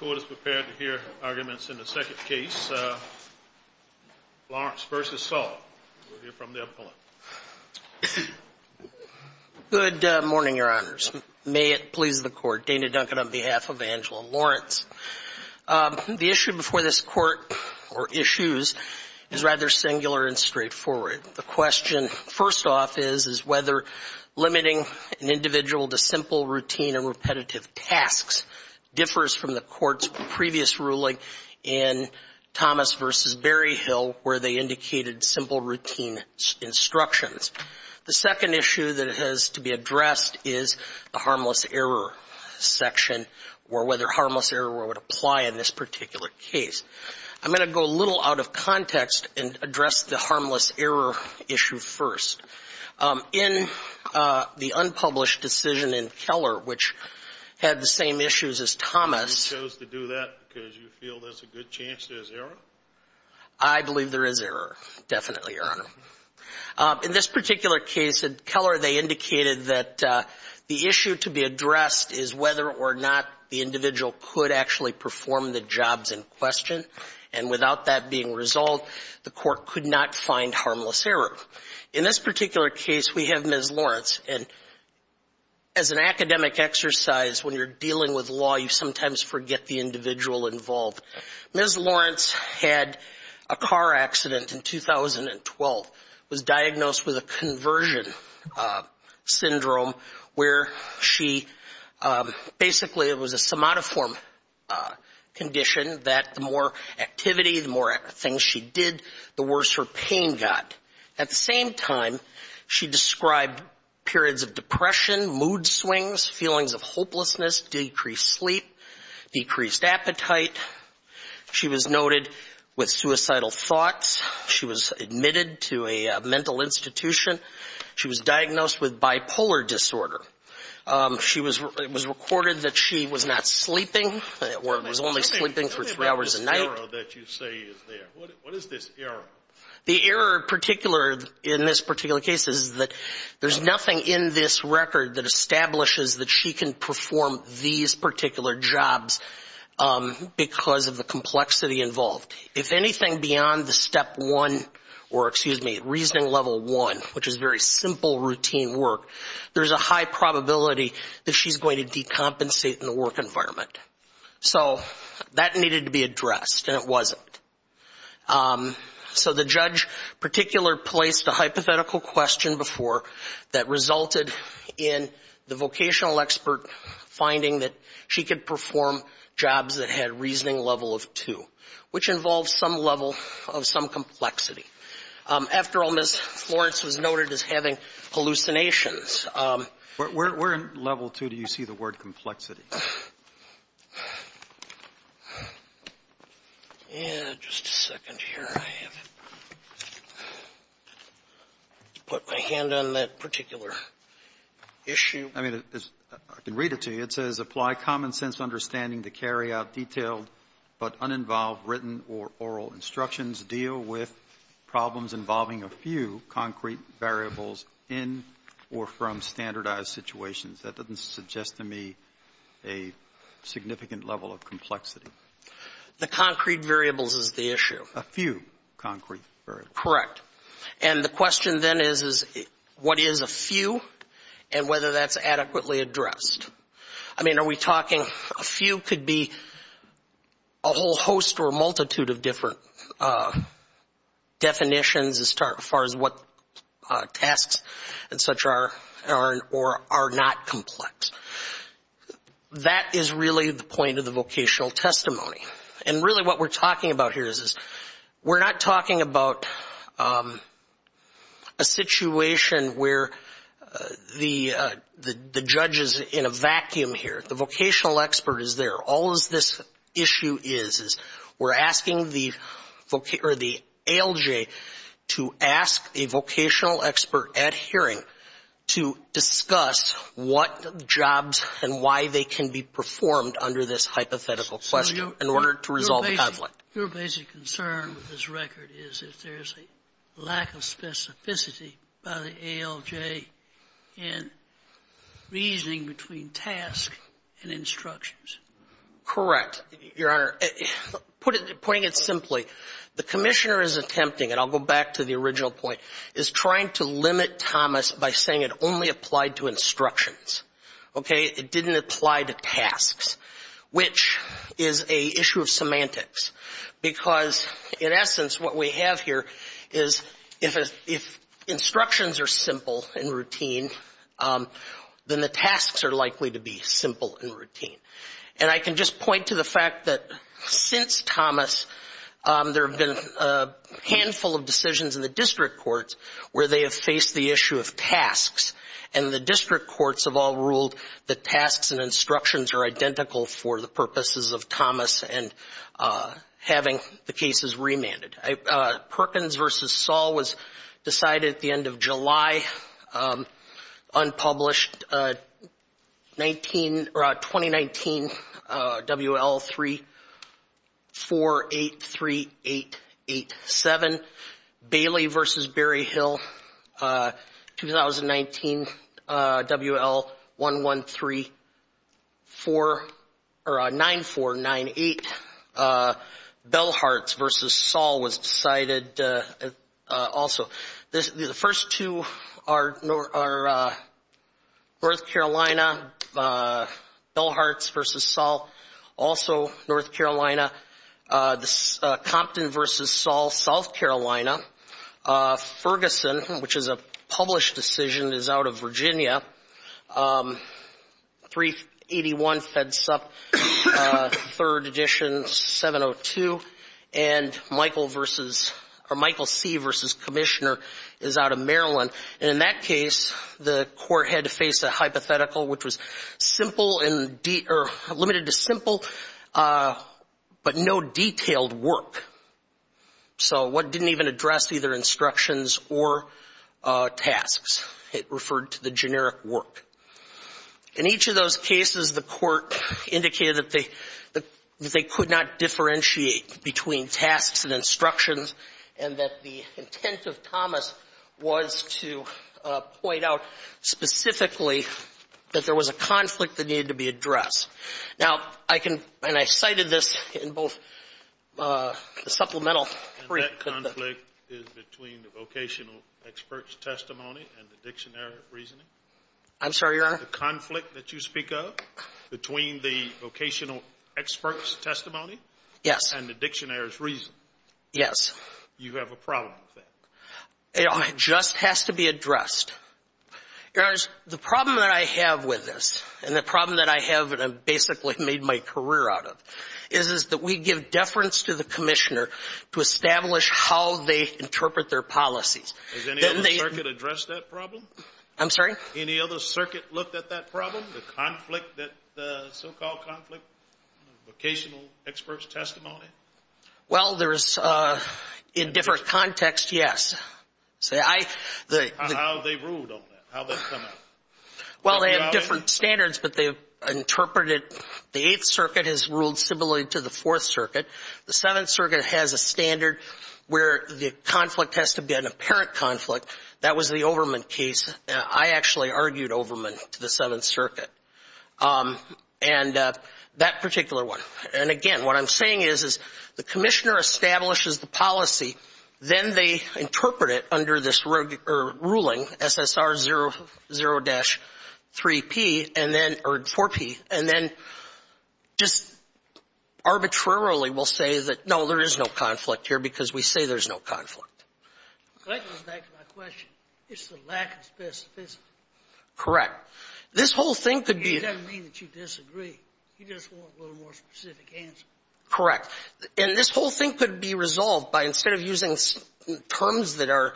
Good morning, Your Honors. May it please the Court, Dana Duncan on behalf of Angela Lawrence. The issue before this Court, or issues, is rather singular and straightforward. The question, first off, is whether limiting an individual to simple, routine, and repetitive tasks differs from the Court's previous ruling in Thomas v. Berryhill, where they indicated simple, routine instructions. The second issue that has to be addressed is the harmless error section, or whether harmless error would apply in this particular case. I'm going to go a little out of context and address the harmless error issue first. In the unpublished decision in Keller, which had the same issues as Thomas… You chose to do that because you feel there's a good chance there's error? I believe there is error, definitely, Your Honor. In this particular case, in Keller, they indicated that the issue to be addressed is whether or not the individual could actually perform the jobs in question, and without that being resolved, the Court could not find harmless error. In this particular case, we have Ms. Lawrence, and as an academic exercise, when you're dealing with law, you sometimes forget the individual involved. Ms. Lawrence had a car accident in 2012, was diagnosed with a conversion syndrome, where she basically it was a somatoform condition that the more activity, the more things she did, the worse her pain got. At the same time, she described periods of depression, mood swings, feelings of hopelessness, decreased sleep, decreased appetite. She was noted with suicidal thoughts. She was admitted to a mental institution. She was diagnosed with bipolar disorder. She was recorded that she was not sleeping, or was only sleeping for three hours a night. The error that you say is there, what is this error? The error in this particular case is that there's nothing in this record that establishes that she can perform these particular jobs because of the complexity involved. If anything beyond the step one, or excuse me, reasoning level one, which is very simple routine work, there's a high probability that she's going to decompensate in the work environment. So that needed to be addressed, and it wasn't. So the judge particular placed a hypothetical question before that resulted in the vocational expert finding that she could perform jobs that had reasoning level of two, which involves some level of some complexity. After all, Ms. Lawrence was noted as having hallucinations. Where in level two do you see the word complexity? Yeah, just a second here. I have to put my hand on that particular issue. I mean, I can read it to you. It says, apply common sense understanding to carry out detailed but uninvolved written or oral instructions. Deal with problems involving a few concrete variables in or from standardized situations. That doesn't suggest to me a significant level of complexity. The concrete variables is the issue. A few concrete variables. Correct. And the question then is, what is a few and whether that's adequately addressed? I mean, are we talking a few could be a whole host or multitude of different definitions as far as what tasks and such are or are not complex? That is really the point of the vocational testimony. And really what we're talking about here is we're not talking about a situation where the judge is in a vacuum here. The vocational expert is there. All of this issue is, is we're asking the ALJ to ask a vocational expert at hearing to discuss what jobs and why they can be performed under this hypothetical question in order to resolve the conflict. Your basic concern with this record is if there's a lack of specificity by the ALJ in reasoning between task and instructions. Correct, Your Honor. Putting it simply, the Commissioner is attempting, and I'll go back to the original point, is trying to limit Thomas by saying it only applied to instructions. Okay? It didn't apply to tasks, which is a issue of semantics. Because in essence, what we have here is if instructions are simple and routine, then the tasks are likely to be simple and routine. And I can just point to the fact that since Thomas, there have been a handful of decisions in the district courts where they have faced the issue of tasks. And the district courts have all ruled that tasks and instructions are identical for the purposes of Thomas and having the cases remanded. Perkins v. Saul was decided at the end of July, unpublished, 2019 WL 3483887. Bailey v. Berryhill, 2019 WL 1134 or 9498. Bellhearts v. Saul was decided also. The first two are North Carolina, Bellhearts v. Saul, also North Carolina. Compton v. Saul, South Carolina. Ferguson, which is a published decision, is out of Virginia. 381 fed sup, third edition, 702. And Michael v. or Michael C. v. Commissioner is out of Maryland. And in that case, the court had to face a hypothetical, which was simple and or limited to simple but no detailed work. So what didn't even address either instructions or tasks. It referred to the generic work. In each of those cases, the court indicated that they could not differentiate between tasks and instructions and that the need to be addressed. Now, I can and I cited this in both the supplemental. And that conflict is between the vocational expert's testimony and the dictionary of reasoning? I'm sorry, Your Honor? The conflict that you speak of between the vocational expert's testimony? Yes. And the dictionary's reasoning? Yes. You have a problem with that? It just has to be addressed. Your Honor, the problem that I have with this and the problem that I have and I've basically made my career out of is that we give deference to the Commissioner to establish how they interpret their policies. Has any other circuit addressed that problem? I'm sorry? Any other circuit looked at that problem, the conflict, the so-called conflict, vocational expert's testimony? Well, there's, in different contexts, yes. How they ruled on that? How they come out? Well, they have different standards, but they interpreted, the Eighth Circuit has ruled similarly to the Fourth Circuit. The Seventh Circuit has a standard where the conflict has to be an apparent conflict. That was the Overman case. I actually argued Overman to the Seventh Circuit. The Commissioner establishes the policy, then they interpret it under this ruling, SSR00-4P, and then just arbitrarily will say that, no, there is no conflict here because we say there's no conflict. So that goes back to my question. It's the lack of specificity. Correct. This whole thing could be... It doesn't mean that you disagree. You just want a little more specific answer. Correct. And this whole thing could be resolved by, instead of using terms that are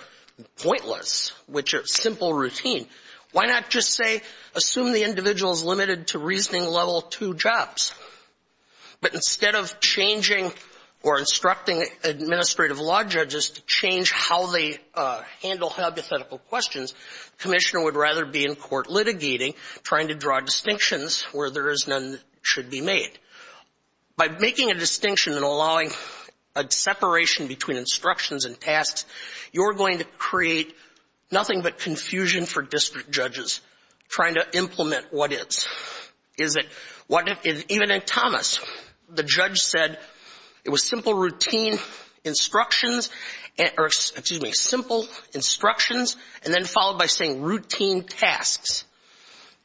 pointless, which are simple routine, why not just say, assume the individual is limited to reasoning level two jobs? But instead of changing or instructing administrative law judges to change how they handle hypothetical questions, the Commissioner would rather be in court litigating, trying to draw distinctions where there is none should be made. By making a distinction and allowing a separation between instructions and tasks, you're going to create nothing but confusion for district judges trying to implement what is. Even in Thomas, the judge said it was simple routine instructions or, excuse me, simple instructions and then followed by saying routine tasks.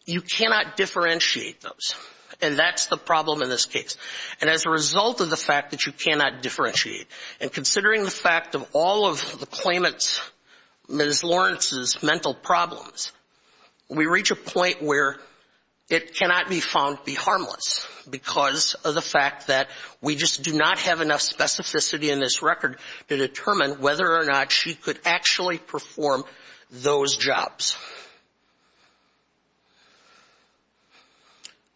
You cannot differentiate those. And that's the problem in this case. And as a result of the fact that you cannot differentiate, and considering the fact of all of the claimants, Ms. Lawrence's mental problems, we reach a point where it cannot be found to be harmless because of the fact that we just do not have enough specificity in this record to determine whether or not she could actually perform those jobs.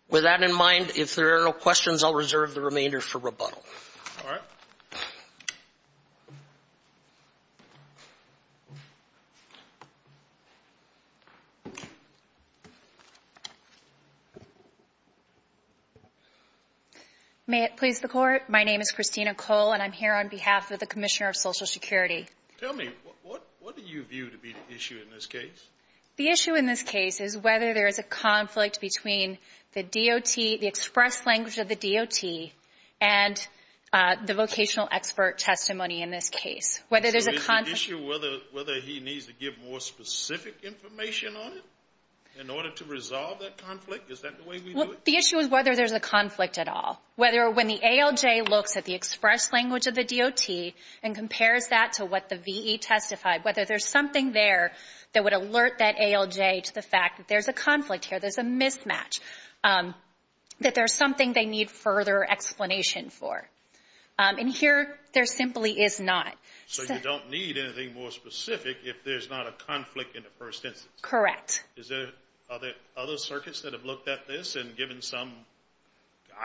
With that in mind, if there are no questions, I'll reserve the remainder for rebuttal. All right. May it please the Court? My name is Christina Cole, and I'm here on behalf of the Commissioner of Social Security. Tell me, what do you view to be the issue in this case? The issue in this case is whether there is a conflict between the DOT, the expressed language of the DOT, and the vocational expert testimony in this case. So is the issue whether he needs to give more specific information on it in order to resolve that conflict? Is that the way we do it? The issue is whether there's a conflict at all. Whether when the ALJ looks at the expressed language of the DOT and compares that to what the VE testified, whether there's something there that would alert that ALJ to the fact that there's a conflict here, there's a mismatch, that there's something they need further explanation for. And here, there simply is not. So you don't need anything more specific if there's not a conflict in the first instance? Correct. Is there other circuits that have looked at this and given some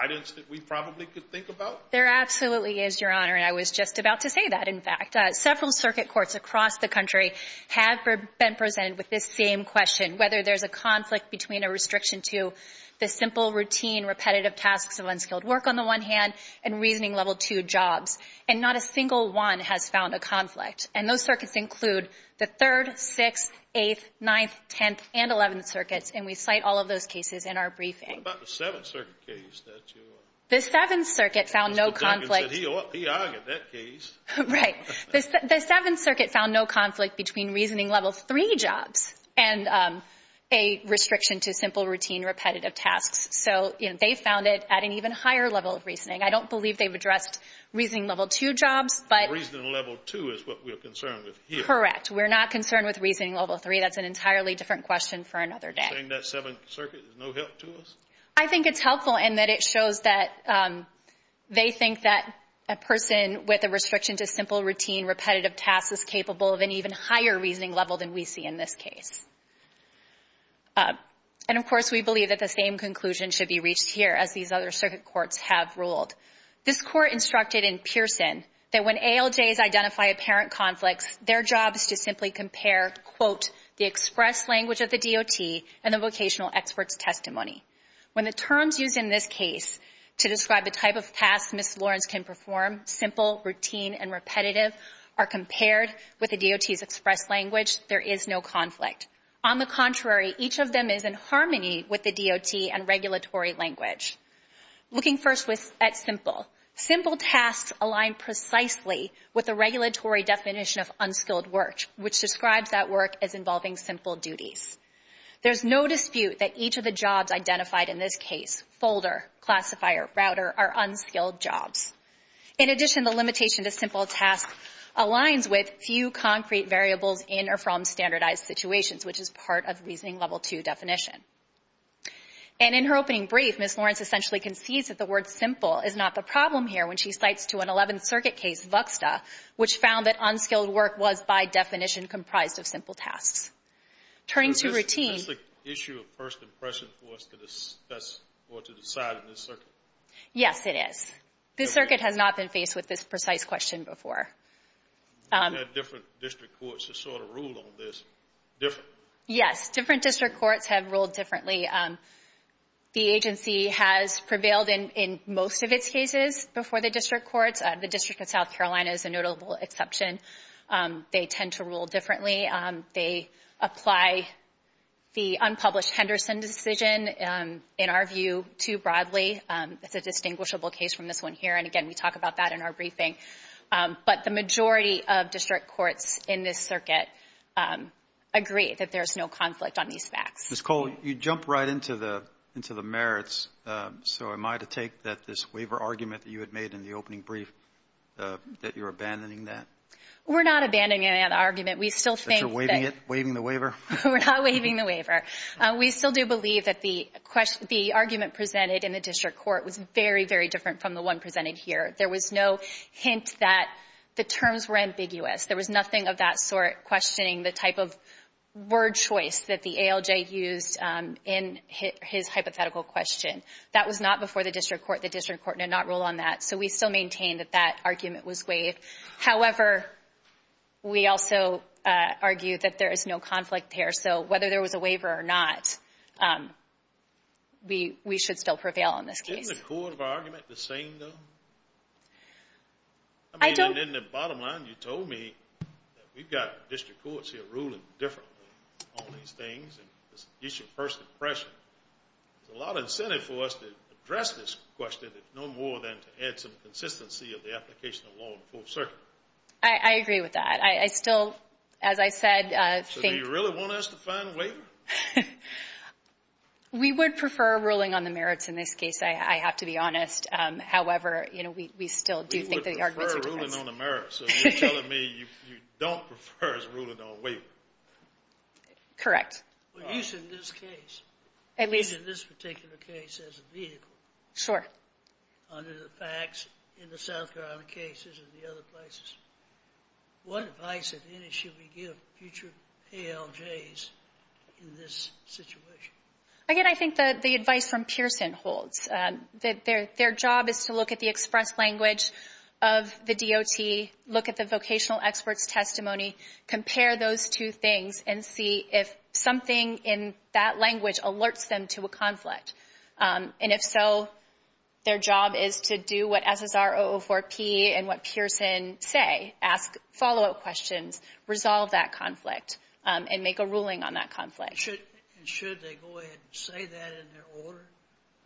guidance that we probably could think about? There absolutely is, Your Honor, and I was just about to say that, in fact. Several circuit courts across the country have been presented with this same question, whether there's a conflict between a restriction to the simple, routine, repetitive tasks of unskilled work, on the one hand, and reasoning level 2 jobs. And not a single one has found a conflict. And those circuits include the Third, Sixth, Eighth, Ninth, Tenth, and Eleventh Circuits, and we cite all of those cases in our briefing. What about the Seventh Circuit case that you argued? The Seventh Circuit found no conflict. Mr. Duncan said he argued that case. Right. The Seventh Circuit found no conflict between reasoning level 3 jobs and a restriction to simple, routine, repetitive tasks. So they found it at an even higher level of reasoning. I don't believe they've addressed reasoning level 2 jobs, but... Reasoning level 2 is what we're concerned with here. Correct. We're not concerned with reasoning level 3. That's an entirely different question for another day. You're saying that Seventh Circuit is no help to us? I think it's helpful in that it shows that they think that a person with a restriction to simple, routine, repetitive tasks is capable of an even higher reasoning level than we see in this case. And of course, we believe that the same conclusion should be reached here, as these other circuit courts have ruled. This court instructed in Pearson that when ALJs identify apparent conflicts, their job is to simply compare, quote, the express language of the DOT and the regulatory language. When the terms used in this case to describe the type of tasks Ms. Lawrence can perform, simple, routine, and repetitive, are compared with the DOT's express language, there is no conflict. On the contrary, each of them is in harmony with the DOT and regulatory language. Looking first at simple, simple tasks align precisely with the regulatory definition of unskilled work, which describes that work as involving simple duties. There's no dispute that each of the jobs identified in this case, folder, classifier, router, are unskilled jobs. In addition, the limitation to simple tasks aligns with few concrete variables in or from standardized situations, which is part of reasoning level two definition. And in her opening brief, Ms. Lawrence essentially concedes that the word simple is not the problem here when she cites to an Eleventh Circuit case, Vuxta, which found that unskilled work was, by definition, comprised of simple tasks. Turning to routine... That's the issue of first impression for us to discuss or to decide in this circuit. Yes, it is. This circuit has not been faced with this precise question before. We've had different district courts that sort of rule on this. Different. Yes, different district courts have ruled differently. The agency has prevailed in most of its cases before the district courts. The District of South Carolina is a notable exception. They tend to rule differently. They apply the unpublished Henderson decision, in our view, too broadly. It's a distinguishable case from this one here. And again, we talk about that in our briefing. But the majority of district courts in this circuit agree that there's no conflict on these facts. Ms. Cole, you jump right into the merits. So am I to take that this waiver argument that you had made in the opening brief, that you're abandoning that? We're not abandoning that argument. We still think that... That you're waiving it, waiving the waiver? We're not waiving the waiver. We still do believe that the argument presented in the district court was very, very different from the one presented here. There was no hint that the terms were ambiguous. There was nothing of that sort questioning the type of word choice that the ALJ used in his hypothetical question. That was not before the district court. The district court did not rule on that. So we still maintain that that argument was waived. However, we also argue that there is no conflict there. So whether there was a waiver or not, we should still prevail on this case. Isn't the core of our argument the same, though? I don't... And in the bottom line, you told me that we've got district courts here ruling differently on these things, and this is your first impression. There's a lot of incentive for us to address this question, if no more than to add some consistency of the application of law in full circuit. I agree with that. I still, as I said, think... So do you really want us to find a waiver? We would prefer ruling on the merits in this case, I have to be honest. However, you know, we still do think that the argument... We would prefer ruling on the merits. So you're telling me you don't prefer us ruling on a waiver? Correct. Well, you said in this case, at least in this particular case as a vehicle. Sure. Under the facts in the South Carolina cases and the other places, what advice, if any, should we give future ALJs in this situation? Again, I think that the advice from Pearson holds. Their job is to look at the express language of the DOT, look at the vocational experts' testimony, compare those two things, and see if something in that language alerts them to a conflict. And if so, their job is to do what SSR-004P and what Pearson say, ask follow-up questions, resolve that conflict, and make a ruling on that conflict. And should they go ahead and say that in their order,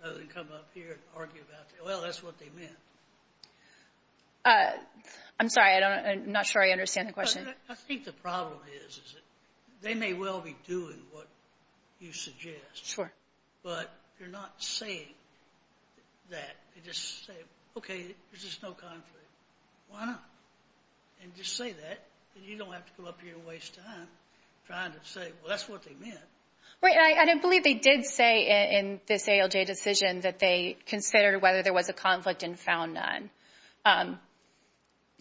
rather than come up here and argue about it? Well, that's what they meant. Uh, I'm sorry. I don't, I'm not sure I understand the question. I think the problem is, is that they may well be doing what you suggest. Sure. But they're not saying that. They just say, okay, there's just no conflict. Why not? And just say that, and you don't have to come up here and waste time trying to say, well, that's what they meant. Right. And I believe they did say in this ALJ decision that they considered whether there was a conflict and found none. Um,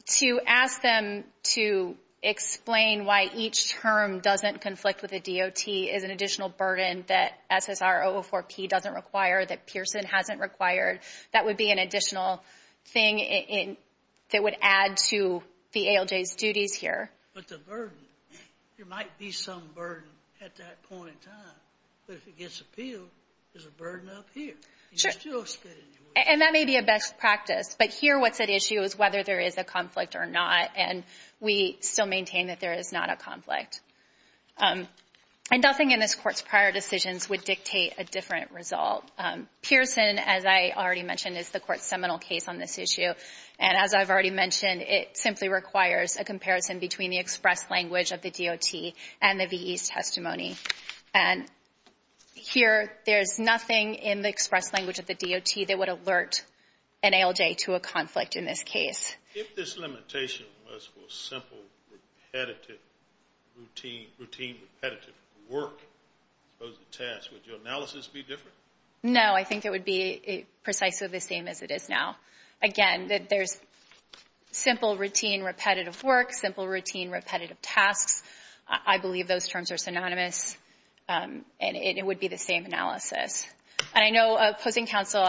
to ask them to explain why each term doesn't conflict with the DOT is an additional burden that SSR-004P doesn't require, that Pearson hasn't required. That would be an additional thing in, that would add to the ALJ's duties here. But the burden, there might be some burden at that point in time. But if it gets appealed, there's a burden up here. Sure. And that may be a best practice. But here what's at issue is whether there is a conflict or not. And we still maintain that there is not a conflict. And nothing in this Court's prior decisions would dictate a different result. Pearson, as I already mentioned, is the Court's seminal case on this issue. And as I've already mentioned, it simply requires a comparison between the express language of the DOT and the V.E.'s testimony. And here, there's nothing in the express language of the DOT that would alert an ALJ to a conflict in this case. If this limitation was for simple repetitive, routine repetitive work, as opposed to tasks, would your analysis be different? No, I think it would be precisely the same as it is now. Again, there's simple routine repetitive work, simple routine repetitive tasks. I believe those terms are synonymous. And it would be the same analysis. And I know opposing counsel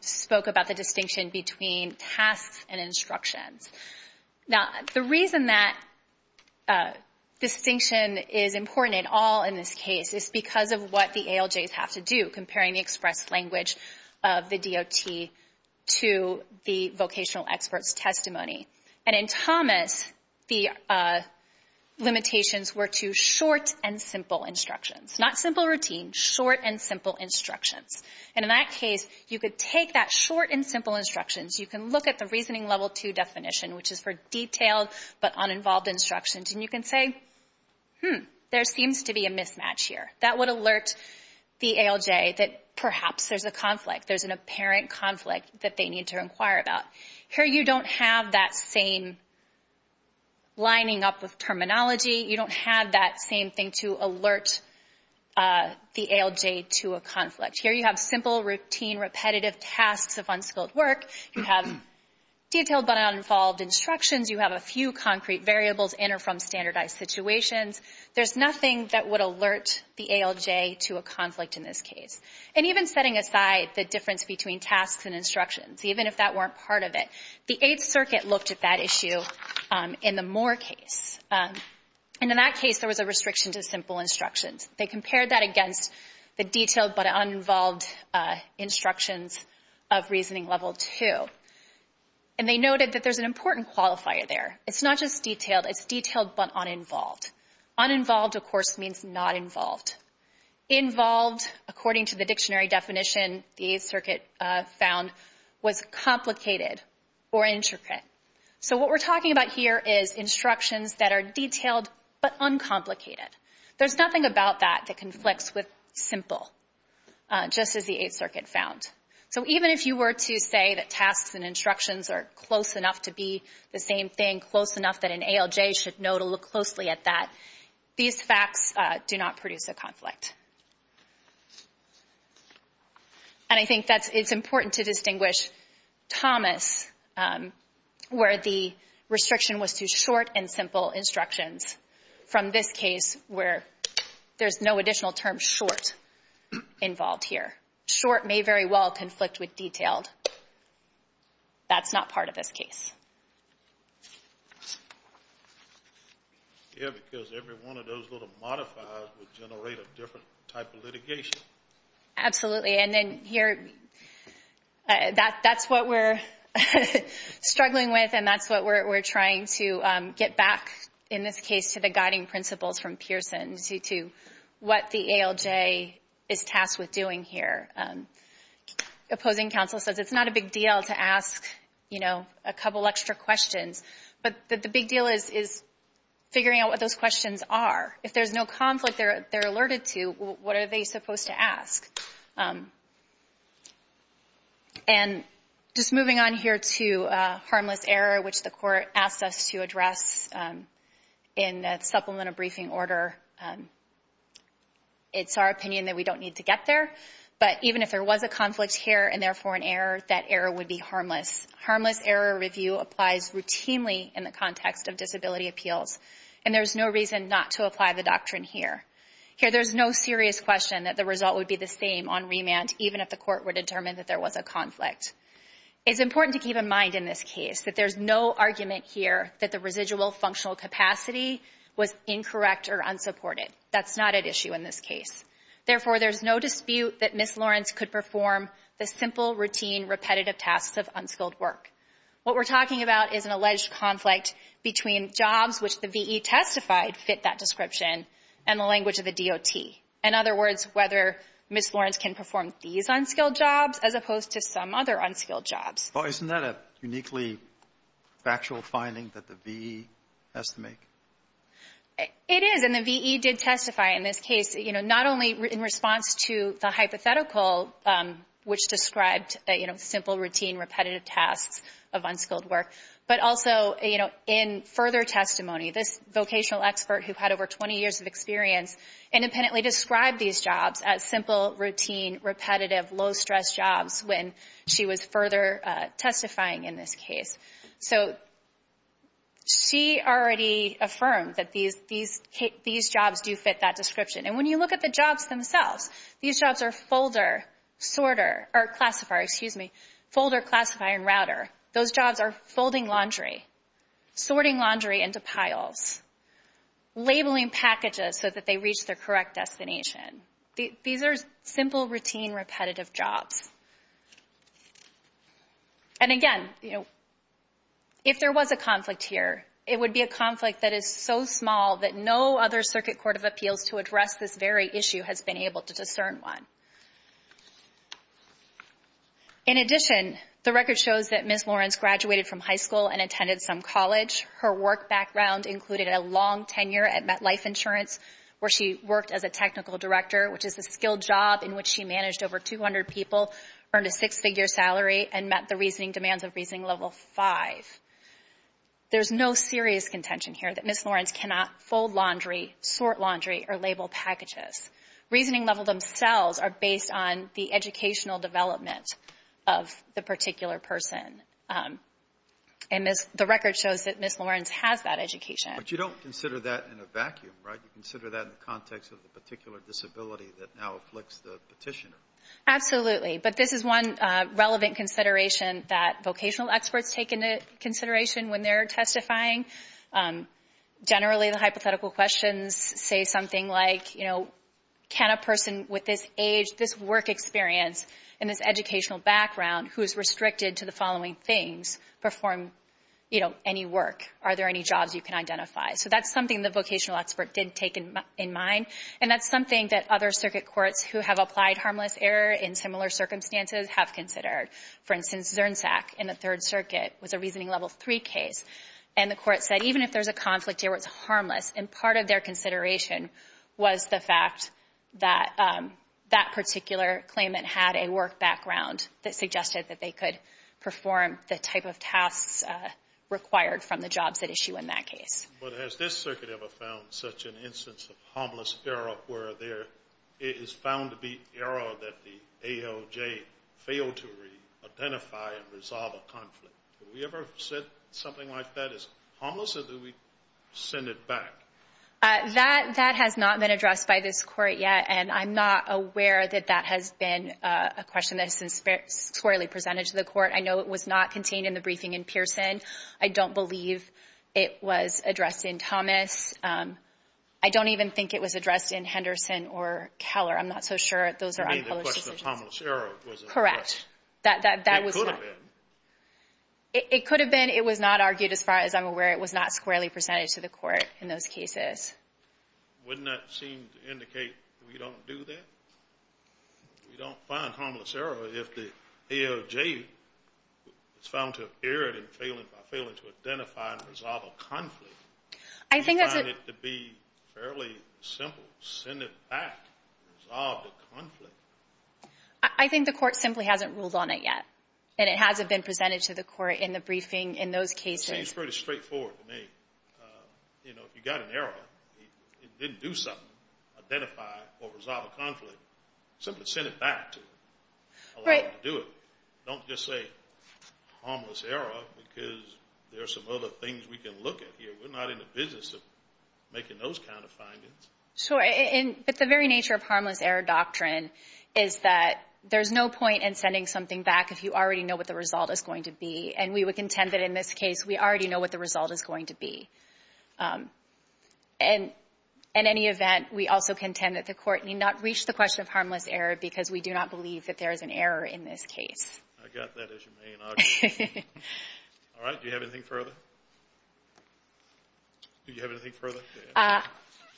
spoke about the distinction between tasks and instructions. Now, the reason that distinction is important at all in this case is because of what the ALJs have to do, comparing the express language of the DOT to the vocational expert's testimony. And in Thomas, the limitations were to short and simple instructions. Not simple routine, short and simple instructions. And in that case, you could take that short and simple instructions, you can look at the reasoning level two definition, which is for detailed but uninvolved instructions, and you can say, hmm, there seems to be a mismatch here. That would alert the ALJ that perhaps there's a conflict. There's an apparent conflict that they need to inquire about. Here you don't have that same lining up with terminology. You don't have that same thing to alert the ALJ to a conflict. Here you have simple routine repetitive tasks of unskilled work. You have detailed but uninvolved instructions. You have a few concrete variables in or from standardized situations. There's nothing that would alert the ALJ to a conflict in this case. And even setting aside the difference between tasks and instructions, even if that weren't part of it. The Eighth Circuit looked at that issue in the Moore case. And in that case, there was a restriction to simple instructions. They compared that against the detailed but uninvolved instructions of reasoning level two. And they noted that there's an important qualifier there. It's not just detailed, it's detailed but uninvolved. Uninvolved, of course, means not involved. Involved, according to the dictionary definition, the Eighth Circuit found was complicated or intricate. So what we're talking about here is instructions that are detailed but uncomplicated. There's nothing about that that conflicts with simple, just as the Eighth Circuit found. So even if you were to say that tasks and instructions are close enough to be the same thing, close enough that an ALJ should know to look closely at that, these facts do not produce a conflict. And I think it's important to distinguish Thomas, where the restriction was to short and simple instructions, from this case where there's no additional term short involved here. Short may very well conflict with detailed. That's not part of this case. Yeah, because every one of those little modifiers would generate a different type of litigation. Absolutely, and then here, that's what we're struggling with, and that's what we're trying to get back, in this case, to the guiding principles from Pearson, to what the ALJ is tasked with doing here. Opposing counsel says it's not a big deal to ask a couple extra questions, but the big deal is figuring out what those questions are. If there's no conflict they're alerted to, what are they supposed to ask? And just moving on here to harmless error, which the court asked us to address in the supplemental briefing order. It's our opinion that we don't need to get there, but even if there was a conflict here, and therefore an error, that error would be harmless. Harmless error review applies routinely in the context of disability appeals, and there's no reason not to apply the doctrine here. Here, there's no serious question that the result would be the same on remand, even if the court were determined that there was a conflict. It's important to keep in mind in this case that there's no argument here that the residual functional capacity was incorrect or unsupported. That's not at issue in this case. Therefore, there's no dispute that Ms. Lawrence could perform the simple, routine, repetitive tasks of unskilled work. What we're talking about is an alleged conflict between jobs, which the V.E. testified fit that description, and the language of the DOT. In other words, whether Ms. Lawrence can perform these unskilled jobs as opposed to some other unskilled jobs. Well, isn't that a uniquely factual finding that the V.E. has to make? It is, and the V.E. did testify in this case. You know, not only in response to the hypothetical, which described simple, routine, repetitive tasks of unskilled work, but also in further testimony. This vocational expert who had over 20 years of experience independently described these jobs as simple, routine, repetitive, low-stress jobs when she was further testifying in this case. She already affirmed that these jobs do fit that description. And when you look at the jobs themselves, these jobs are folder, classifier, and router. Those jobs are folding laundry, sorting laundry into piles, labeling packages so that they reach their correct destination. These are simple, routine, repetitive jobs. And again, if there was a conflict here, it would be a conflict that is so small that no other circuit court of appeals to address this very issue has been able to discern one. In addition, the record shows that Ms. Lawrence graduated from high school and attended some college. Her work background included a long tenure at MetLife Insurance, where she worked as a technical director, which is a skilled job in which she managed over 200 people, earned a six-figure salary, and met the reasoning demands of reasoning level 5. There's no serious contention here that Ms. Lawrence cannot fold laundry, sort laundry, or label packages. Reasoning level themselves are based on the educational development of the particular person. And Ms. — the record shows that Ms. Lawrence has that education. Alitono, but you don't consider that in a vacuum, right? You consider that in the context of the particular disability that now afflicts the Petitioner. Absolutely. But this is one relevant consideration that vocational experts take into consideration when they're testifying. Generally, the hypothetical questions say something like, you know, can a person with this age, this work experience, and this educational background who is restricted to the following things perform, you know, any work? Are there any jobs you can identify? So that's something the vocational expert did take in mind. And that's something that other circuit courts who have applied harmless error in similar circumstances have considered. For instance, Zernsack in the Third Circuit was a reasoning level three case. And the court said even if there's a conflict, it was harmless. And part of their consideration was the fact that that particular claimant had a work background that suggested that they could perform the type of tasks required from the jobs that issue in that case. But has this circuit ever found such an instance of harmless error where there is found to be error that the ALJ failed to re-identify and resolve a conflict? Have we ever said something like that is harmless or do we send it back? That has not been addressed by this court yet. And I'm not aware that that has been a question that's historically presented to the court. I know it was not contained in the briefing in Pearson. I don't believe it was addressed in Thomas. I don't even think it was addressed in Henderson or Keller. I'm not so sure those are unpublished. I mean, the question of harmless error was addressed. Correct. That was not. It could have been. It could have been. It was not argued as far as I'm aware. It was not squarely presented to the court in those cases. Wouldn't that seem to indicate we don't do that? We don't find harmless error if the ALJ is found to have erred in failing to identify and resolve a conflict. I think that's it. We find it to be fairly simple. Send it back. Resolve the conflict. I think the court simply hasn't ruled on it yet. And it hasn't been presented to the court in the briefing in those cases. Seems pretty straightforward to me. You know, if you got an error, it didn't do something. Identify or resolve a conflict. Simply send it back to it. Right. Do it. Don't just say harmless error because there are some other things we can look at here. We're not in the business of making those kind of findings. Sure, but the very nature of harmless error doctrine is that there's no point in sending something back if you already know what the result is going to be. And we would contend that in this case, we already know what the result is going to be. And in any event, we also contend that the court need not reach the question of harmless error because we do not believe that there is an error in this case. I got that as your main argument. All right. Do you have anything further? Do you have anything further?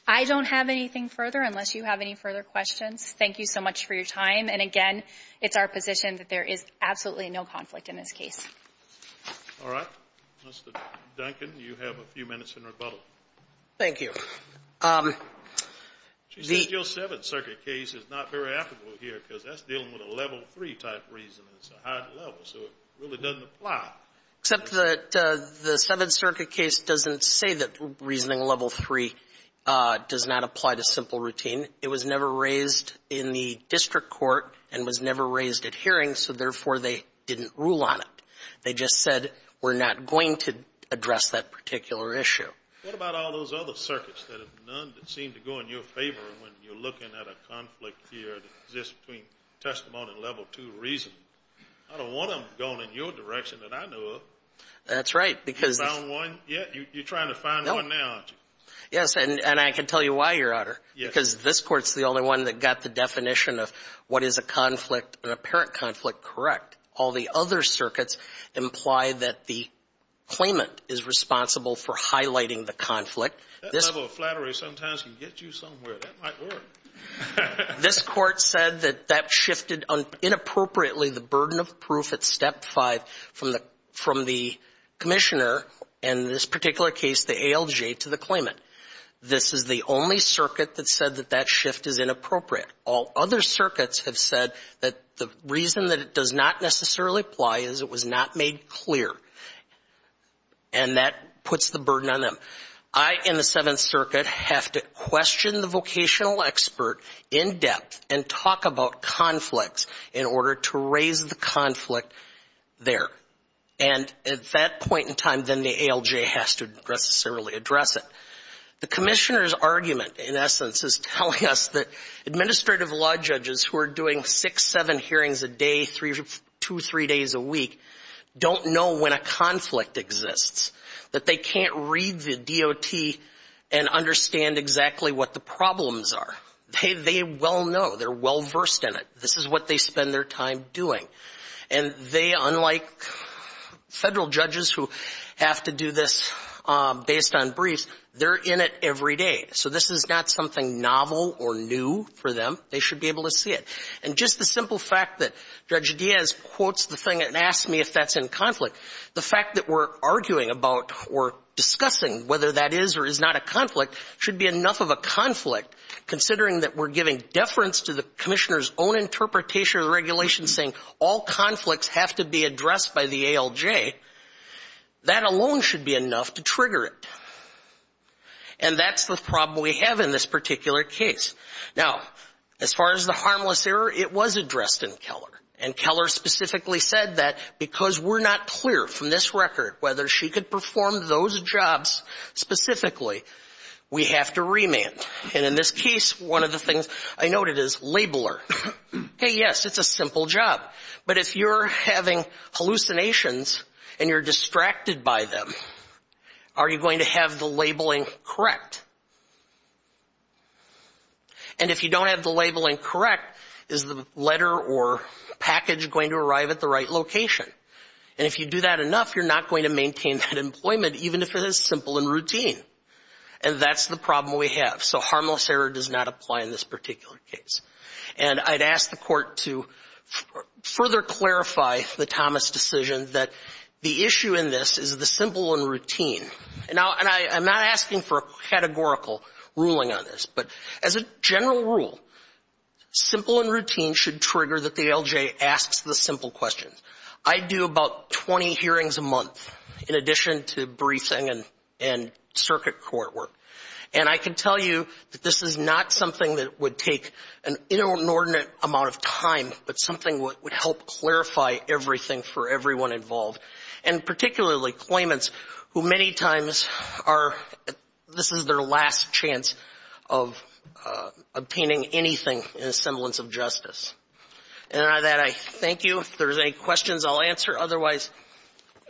I don't have anything further unless you have any further questions. Thank you so much for your time. And again, it's our position that there is absolutely no conflict in this case. All right. Mr. Duncan, you have a few minutes in rebuttal. Thank you. She said your Seventh Circuit case is not very applicable here because that's dealing with a level three type reason. It's a high level, so it really doesn't apply. Except that the Seventh Circuit case doesn't say that reasoning level three does not apply to simple routine. It was never raised in the district court and was never raised at hearing, so therefore, they didn't rule on it. They just said we're not going to address that particular issue. What about all those other circuits that have none that seem to go in your favor when you're looking at a conflict here that exists between testimony and level two reasoning? I don't want them going in your direction that I know of. That's right. You found one? Yeah, you're trying to find one now, aren't you? Yes, and I can tell you why, Your Honor, because this court's the only one that got the definition of what is a conflict, an apparent conflict, correct. All the other circuits imply that the claimant is responsible for highlighting the conflict. That level of flattery sometimes can get you somewhere. That might work. This court said that that shifted inappropriately the burden of proof at step five from the commissioner, in this particular case, the ALJ, to the claimant. This is the only circuit that said that that shift is inappropriate. All other circuits have said that the reason that it does not necessarily apply is it was not made clear, and that puts the burden on them. I, in the Seventh Circuit, have to question the vocational expert in depth and talk about conflicts in order to raise the conflict there, and at that point in time, then the ALJ has to necessarily address it. The commissioner's argument, in essence, is telling us that administrative law judges who are doing six, seven hearings a day, two, three days a week, don't know when a conflict exists, that they can't read the DOT and understand exactly what the problems are. They well know. They're well-versed in it. This is what they spend their time doing, and they, unlike federal judges who have to do this based on briefs, they're in it every day, so this is not something novel or new for them. They should be able to see it, and just the simple fact that Judge Diaz quotes the thing and asks me if that's in conflict, the fact that we're arguing about or discussing whether that is or is not a conflict should be enough of a conflict, considering that we're giving deference to the commissioner's own interpretation of the regulations saying all conflicts have to be addressed by the ALJ. That alone should be enough to trigger it, and that's the problem we have in this particular case. Now, as far as the harmless error, it was addressed in Keller, and Keller specifically said that because we're not clear from this record whether she could perform those jobs specifically, we have to remand, and in this case, one of the things I noted is labeler. Hey, yes, it's a simple job, but if you're having hallucinations and you're distracted by them, are you going to have the labeling correct? And if you don't have the labeling correct, is the letter or package going to arrive at the right location? And if you do that enough, you're not going to maintain that employment even if it is simple and routine, and that's the problem we have. So harmless error does not apply in this particular case, and I'd ask the Court to further clarify the Thomas decision that the issue in this is the simple and routine. Now, and I'm not asking for a categorical ruling on this, but as a general rule, simple and routine should trigger that the ALJ asks the simple questions. I do about 20 hearings a month in addition to briefing and circuit court work, and I can tell you that this is not something that would take an inordinate amount of time, but something would help clarify everything for everyone involved, and particularly claimants who many times are, this is their last chance of obtaining anything in the semblance of justice. And on that, I thank you. If there's any questions, I'll answer. Otherwise,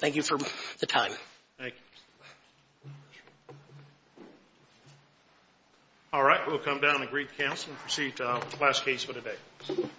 thank you for the time. Thank you. All right, we'll come down and agree to cancel and proceed to our last case for today.